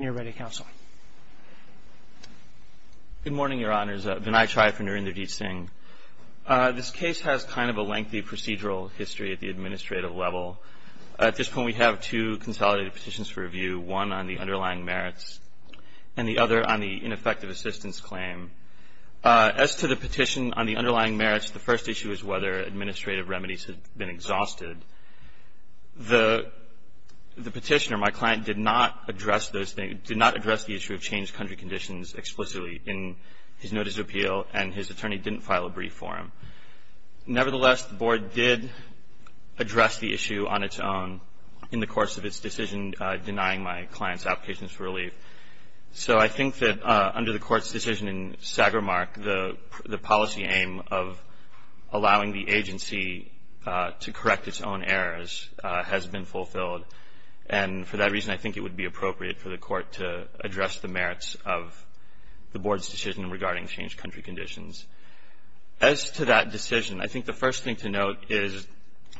Good morning, Your Honors. Vinay Tri for Narendra J. Singh. This case has kind of a lengthy procedural history at the administrative level. At this point, we have two consolidated petitions for review, one on the underlying merits and the other on the ineffective assistance claim. As to the petition on the underlying merits, the first issue is whether administrative remedies have been exhausted. The petitioner, my client, did not address the issue of changed country conditions explicitly in his notice of appeal, and his attorney didn't file a brief for him. Nevertheless, the Board did address the issue on its own in the course of its decision denying my client's applications for relief. So I think that under the Court's decision in Sagarmark, the policy aim of allowing the agency to correct its own errors has been fulfilled. And for that reason, I think it would be appropriate for the Court to address the merits of the Board's decision regarding changed country conditions. As to that decision, I think the first thing to note is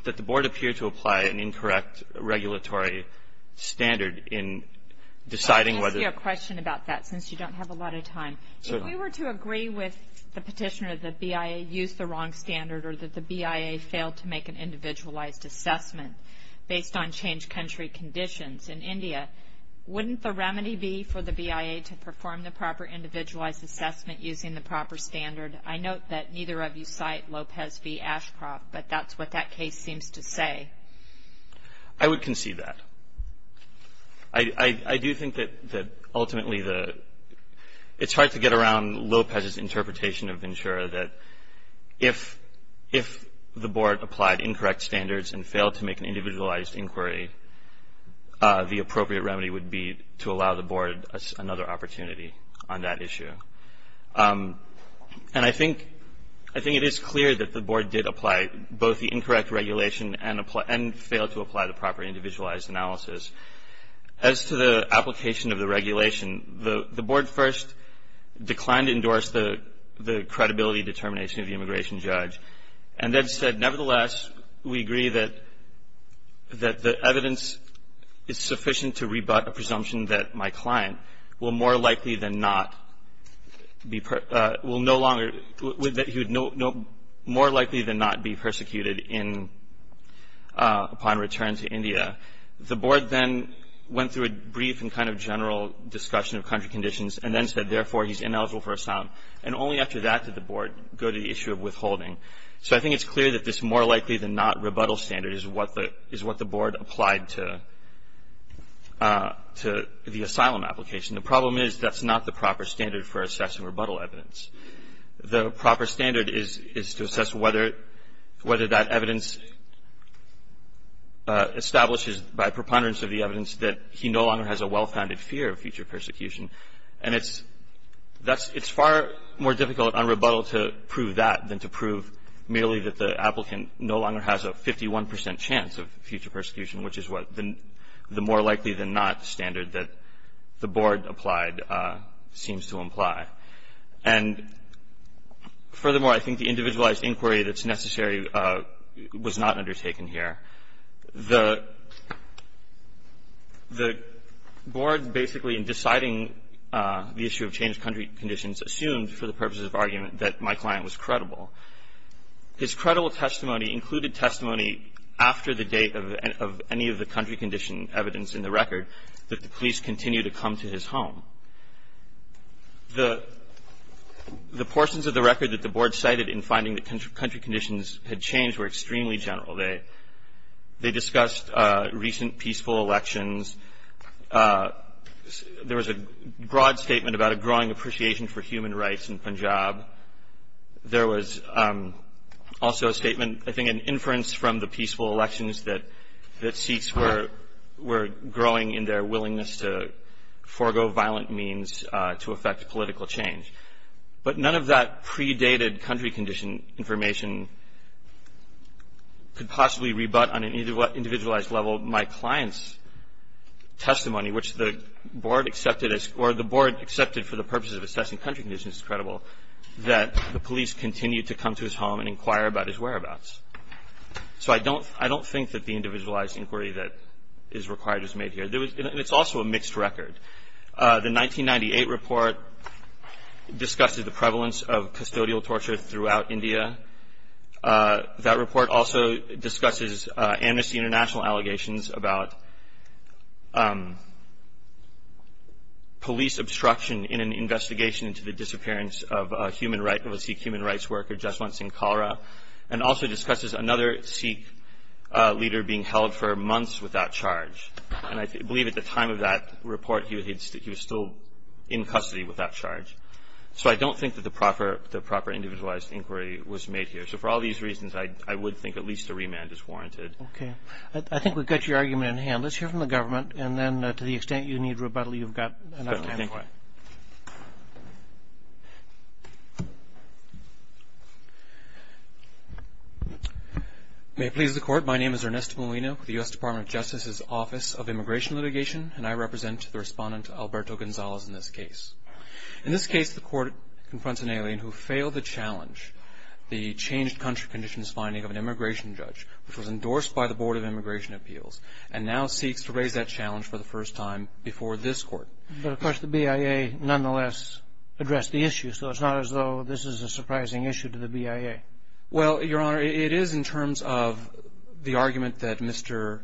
that the Board appeared to apply an incorrect regulatory standard in deciding whether to use the wrong standard, or that the BIA failed to make an individualized assessment based on changed country conditions. In India, wouldn't the remedy be for the BIA to perform the proper individualized assessment using the proper standard? I note that neither of you cite Lopez v. Ashcroft, but that's what that case seems to say. I would concede that. I do think that ultimately the – it's hard to get around Lopez's interpretation of Ventura that if the Board applied incorrect standards and failed to make an individualized inquiry, the appropriate remedy would be to allow the Board another opportunity on that issue. And I think it is clear that the Board did apply both the and failed to apply the proper individualized analysis. As to the application of the regulation, the Board first declined to endorse the credibility determination of the immigration judge, and then said, nevertheless, we agree that the evidence is sufficient to rebut a presumption that my client will more likely than not be persecuted in – upon return to India. The Board then went through a brief and kind of general discussion of country conditions, and then said, therefore, he's ineligible for asylum. And only after that did the Board go to the issue of withholding. So I think it's clear that this more likely than not rebuttal standard is what the Board applied to the asylum application. The problem is that's not the proper standard for assessing whether that evidence establishes by preponderance of the evidence that he no longer has a well-founded fear of future persecution. And it's – that's – it's far more difficult on rebuttal to prove that than to prove merely that the applicant no longer has a 51 percent chance of future persecution, which is what the more likely than not standard that the Board applied seems to imply. And furthermore, I think the individualized inquiry that's necessary was not undertaken here. The – the Board basically, in deciding the issue of changed country conditions, assumed, for the purposes of argument, that my client was credible. His credible testimony included testimony after the date of any of the country condition evidence in the record that the police continue to come to his home. The – the portions of the record that the Board cited in finding that country conditions had changed were extremely general. They – they discussed recent peaceful elections. There was a broad statement about a growing appreciation for human rights in Punjab. There was also a statement, I think, an inference from the peaceful elections that – that Sikhs were – were growing in their willingness to forego violent means to affect political change. But none of that predated country condition information could possibly rebut on an individualized level my client's testimony, which the Board accepted as – or the Board accepted for the purposes of assessing country conditions as credible, that the police continue to come to his home and inquire about his whereabouts. So I don't – I don't think that the individualized inquiry that is required was made here. There was – and it's also a mixed record. The 1998 report discussed the prevalence of custodial torture throughout India. That report also discusses Amnesty International allegations about police obstruction in an investigation into the disappearance of a human right – of a Sikh human rights worker just once in cholera, and also discusses another Sikh leader being held for months without charge. And I believe at the time of that report, he was still in custody without charge. So I don't think that the proper individualized inquiry was made here. So for all these reasons, I would think at least a remand is warranted. Okay. I think we've got your argument in hand. Let's hear from the government, and then to the extent you need rebuttal, you've got enough time for it. May it please the Court, my name is Ernesto Molino with the U.S. Department of Justice's Office of Immigration Litigation, and I represent the Respondent Alberto Gonzalez in this case. In this case, the Court confronts an alien who failed the challenge, the changed country conditions finding of an immigration judge, which was endorsed by the Board of Immigration Appeals, and now seeks to raise that challenge for the first time before this Court. But, of course, the BIA nonetheless addressed the issue, so it's not as though this is a surprising issue to the BIA. Well, Your Honor, it is in terms of the argument that Mr.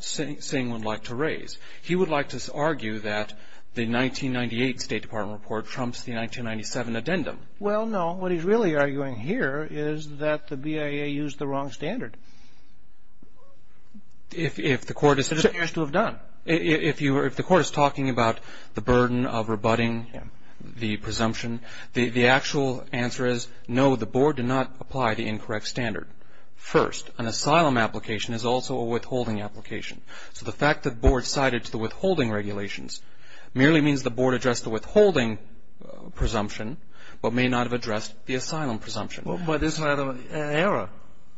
Singh would like to raise. He would like to argue that the 1998 State Department report trumps the 1997 addendum. Well, no. What he's really arguing here is that the BIA used the wrong standard. If the Court is... It appears to have done. If the Court is talking about the burden of rebutting the presumption, the actual answer is no, the Board did not apply the incorrect standard. First, an asylum application is also a withholding application. So the fact that the Board sided to the withholding regulations merely means the Board addressed the withholding presumption, but may not have addressed the asylum presumption. Well, but isn't that an error?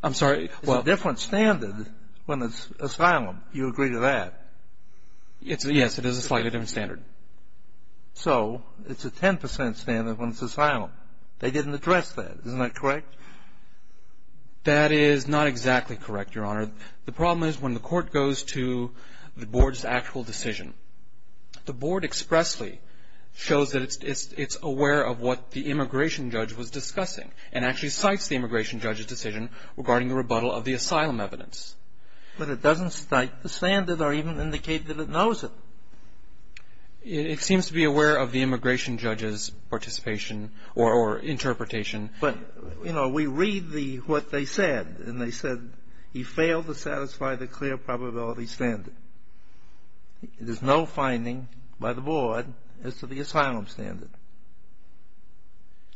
I'm sorry, well... Yes, it is a slightly different standard. So it's a 10% standard when it's asylum. They didn't address that. Isn't that correct? That is not exactly correct, Your Honor. The problem is when the Court goes to the Board's actual decision, the Board expressly shows that it's aware of what the immigration judge was discussing, and actually cites the immigration judge's decision regarding the rebuttal of the asylum evidence. But it doesn't cite the standard or even indicate that it knows it. It seems to be aware of the immigration judge's participation or interpretation. But, you know, we read what they said, and they said, he failed to satisfy the clear probability standard. There's no finding by the Board as to the asylum standard.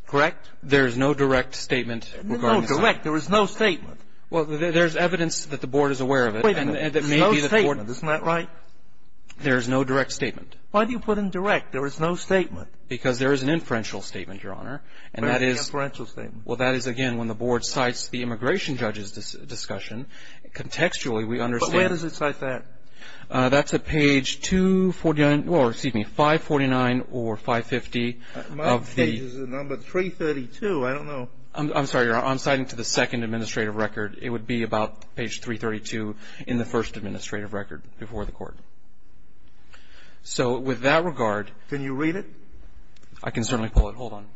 Correct? There is no direct statement regarding asylum. No direct. There is no statement. Well, there's evidence that the Board is aware of it. Wait a minute. There's no statement. Isn't that right? There is no direct statement. Why do you put in direct? There is no statement. Because there is an inferential statement, Your Honor. What is an inferential statement? Well, that is, again, when the Board cites the immigration judge's discussion. Contextually, we understand... But where does it cite that? That's at page 249, or excuse me, 549 or 550 of the... My page is at number 332. I don't know. I'm sorry, Your Honor. I'm citing to the second administrative record. It would be about page 332 in the first administrative record before the Court. So with that regard... Can you read it? I can certainly pull it. Hold on.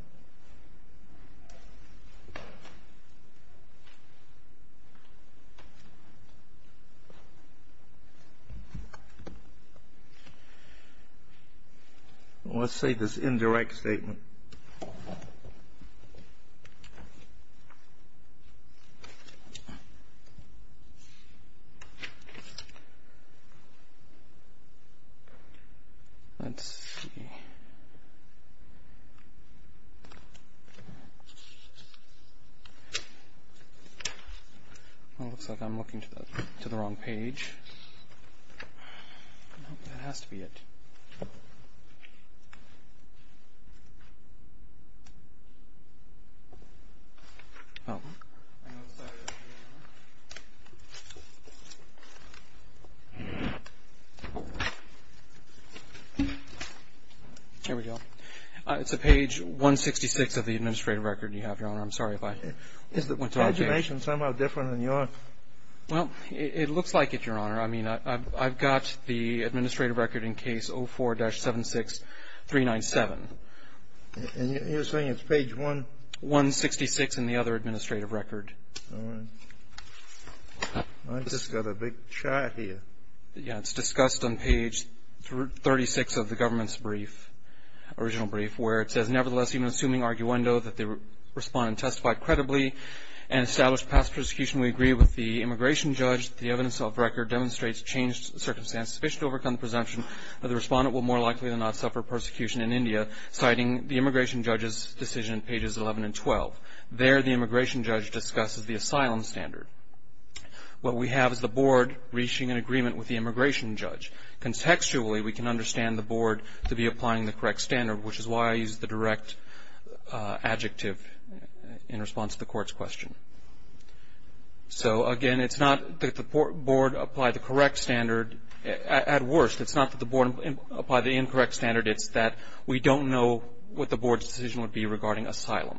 Let's see this indirect statement. Let's see. Well, it looks like I'm looking to the wrong page. That has to be it. Oh. Here we go. It's at page 166 of the administrative record you have, Your Honor. I'm sorry if I went to all pages. Is the information somehow different than yours? Well, it looks like it, Your Honor. I mean, I've got the administrative record in case 04-76397. And you're saying it's page 166? 166 in the other administrative record. All right. I've just got a big chart here. Yeah, it's discussed on page 36 of the government's brief, original brief, where it says, Nevertheless, even assuming arguendo that the respondent testified credibly and established past persecution, we agree with the immigration judge that the evidence of record demonstrates changed circumstances sufficient to overcome the presumption that the respondent will more likely than not suffer persecution in India, citing the immigration judge's decision in pages 11 and 12. There, the immigration judge discusses the asylum standard. What we have is the board reaching an agreement with the immigration judge. Contextually, we can understand the board to be applying the correct standard, which is why I used the direct adjective in response to the court's question. So, again, it's not that the board applied the correct standard. At worst, it's not that the board applied the incorrect standard. It's that we don't know what the board's decision would be regarding asylum.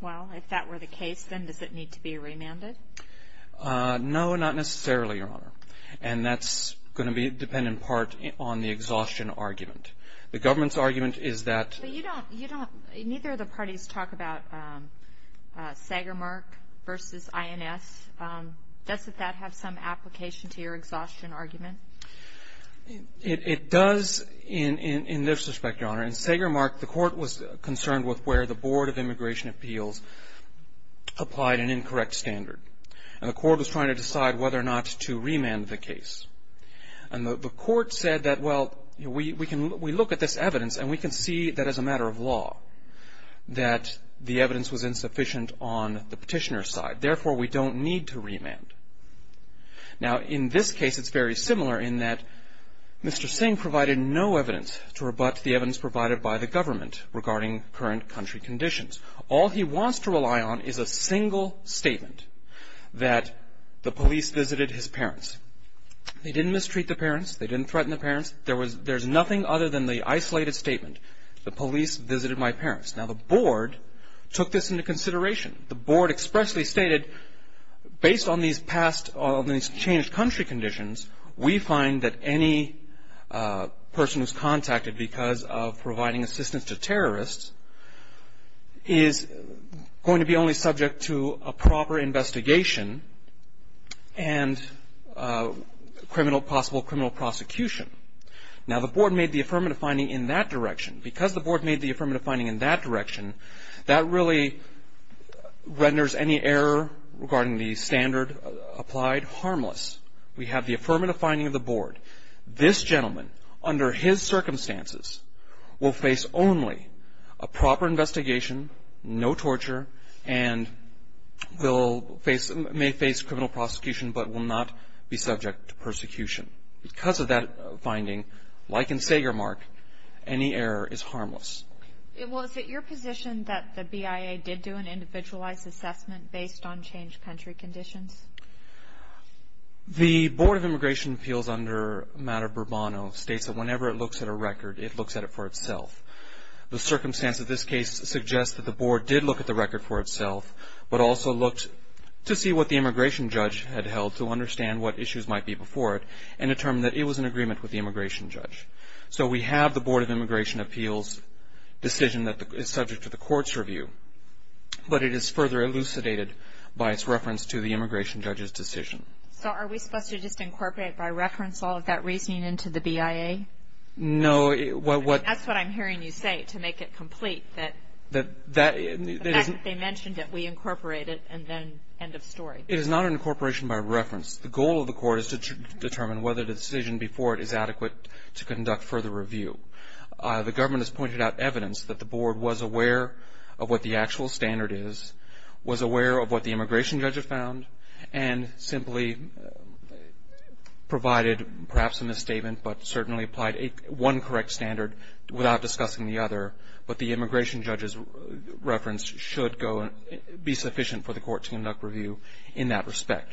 Well, if that were the case, then does it need to be remanded? No, not necessarily, Your Honor. And that's going to depend in part on the exhaustion argument. The government's argument is that But you don't, you don't, neither of the parties talk about Sagermark versus INS. Doesn't that have some application to your exhaustion argument? It does in this respect, Your Honor. In Sagermark, the court was concerned with where the Board of Immigration Appeals applied an incorrect standard. And the court was trying to decide whether or not to remand the case. And the court said that, well, we look at this evidence and we can see that as a matter of law that the evidence was insufficient on the petitioner's side. Therefore, we don't need to remand. Now, in this case, it's very similar in that Mr. Singh provided no evidence to rebut the evidence provided by the government regarding current country conditions. All he wants to rely on is a single statement that the police visited his parents. They didn't mistreat the parents. They didn't threaten the parents. There's nothing other than the isolated statement, the police visited my parents. Now, the board took this into consideration. The board expressly stated, based on these changed country conditions, we find that any person who's contacted because of providing assistance to terrorists is going to be only subject to a proper investigation and possible criminal prosecution. Now, the board made the affirmative finding in that direction. That really renders any error regarding the standard applied harmless. We have the affirmative finding of the board. This gentleman, under his circumstances, will face only a proper investigation, no torture, and may face criminal prosecution but will not be subject to persecution. Because of that finding, like in Sagermark, any error is harmless. Well, is it your position that the BIA did do an individualized assessment based on changed country conditions? The Board of Immigration Appeals under Matter Burbano states that whenever it looks at a record, it looks at it for itself. The circumstance of this case suggests that the board did look at the record for itself but also looked to see what the immigration judge had held to understand what issues might be before it and determined that it was in agreement with the immigration judge. So we have the Board of Immigration Appeals decision that is subject to the court's review. But it is further elucidated by its reference to the immigration judge's decision. So are we supposed to just incorporate by reference all of that reasoning into the BIA? No. That's what I'm hearing you say, to make it complete. The fact that they mentioned it, we incorporate it, and then end of story. It is not an incorporation by reference. The goal of the court is to determine whether the decision before it is adequate to conduct further review. The government has pointed out evidence that the board was aware of what the actual standard is, was aware of what the immigration judge had found, and simply provided perhaps a misstatement but certainly applied one correct standard without discussing the other. But the immigration judge's reference should be sufficient for the court to conduct review in that respect.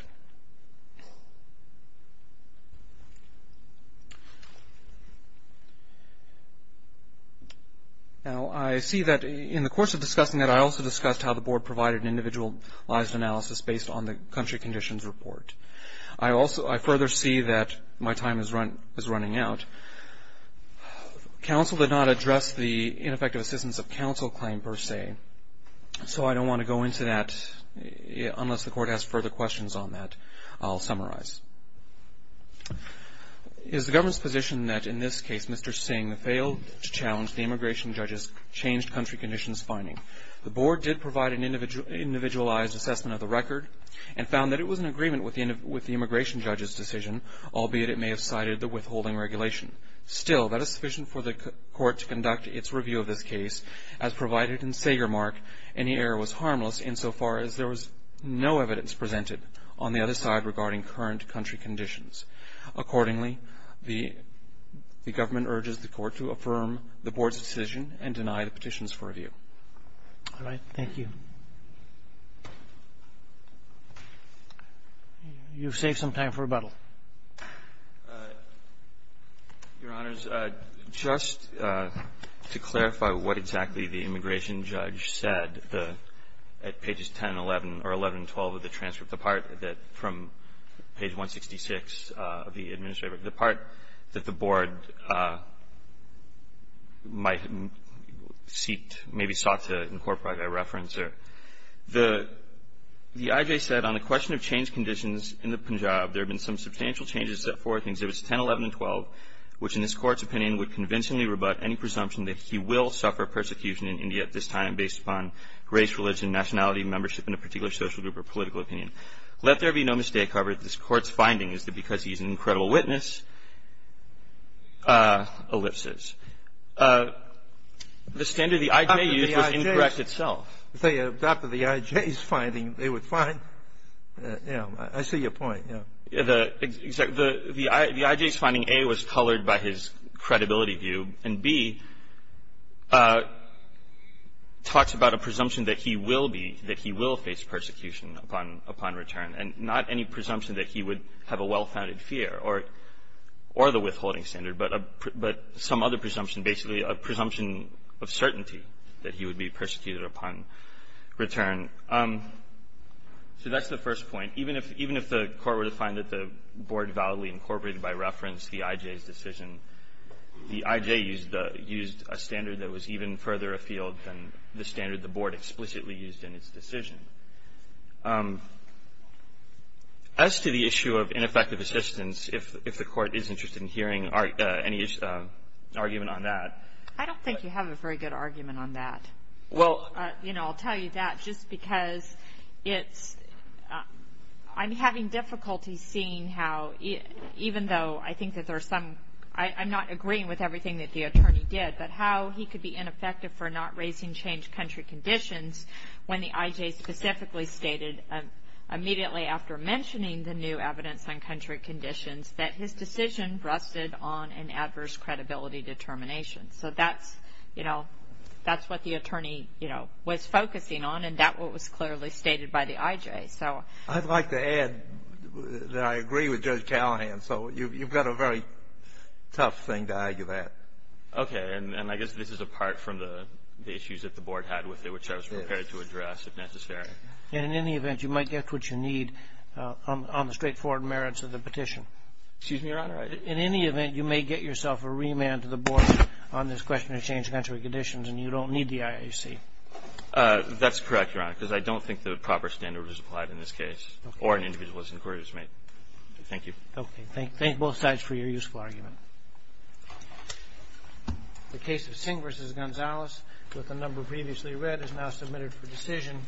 Now, I see that in the course of discussing that, I also discussed how the board provided individualized analysis based on the country conditions report. I further see that my time is running out. Counsel did not address the ineffective assistance of counsel claim per se, so I don't want to go into that unless the court has further questions on that. I'll summarize. Is the government's position that in this case Mr. Singh failed to challenge the immigration judge's changed country conditions finding? The board did provide an individualized assessment of the record albeit it may have cited the withholding regulation. Still, that is sufficient for the court to conduct its review of this case, as provided in Sagermark any error was harmless insofar as there was no evidence presented on the other side regarding current country conditions. Accordingly, the government urges the court to affirm the board's decision and deny the petitions for review. All right. Thank you. You've saved some time for rebuttal. Your Honors, just to clarify what exactly the immigration judge said at pages 10, 11, or 11 and 12 of the transcript, the part that from page 166 of the administrative that the board might seek, maybe sought to incorporate a reference there. The IJ said on the question of change conditions in the Punjab, there have been some substantial changes set forth in exhibits 10, 11, and 12, which in this Court's opinion would convincingly rebut any presumption that he will suffer persecution in India at this time based upon race, religion, nationality, membership in a particular social group or political opinion. Let there be no mistake, however, that this Court's finding is that because he's an incredible witness, ellipses. The standard the IJ used was incorrect itself. After the IJ's finding, they would find, you know, I see your point. The IJ's finding, A, was colored by his credibility view. And B, talks about a presumption that he will be, that he will face persecution upon return. And not any presumption that he would have a well-founded fear or the withholding standard, but some other presumption, basically a presumption of certainty that he would be persecuted upon return. So that's the first point. Even if the Court were to find that the board validly incorporated by reference the IJ's decision, the IJ used a standard that was even further afield than the standard the board explicitly used in its decision. As to the issue of ineffective assistance, if the Court is interested in hearing any argument on that. I don't think you have a very good argument on that. Well, you know, I'll tell you that just because it's, I'm having difficulty seeing how, even though I think that there's some, I'm not agreeing with everything that the attorney did. But how he could be ineffective for not raising change country conditions when the IJ specifically stated, immediately after mentioning the new evidence on country conditions, that his decision rested on an adverse credibility determination. So that's, you know, that's what the attorney, you know, was focusing on. And that was clearly stated by the IJ. I'd like to add that I agree with Judge Callahan. So you've got a very tough thing to argue that. Okay. And I guess this is apart from the issues that the board had with it, which I was prepared to address, if necessary. And in any event, you might get what you need on the straightforward merits of the petition. Excuse me, Your Honor. In any event, you may get yourself a remand to the board on this question of change country conditions, and you don't need the IAC. That's correct, Your Honor, because I don't think the proper standard was applied in this case, or an individual's inquiry was made. Thank you. Okay. Thank both sides for your useful argument. The case of Singh v. Gonzalez, with the number previously read, is now submitted for decision.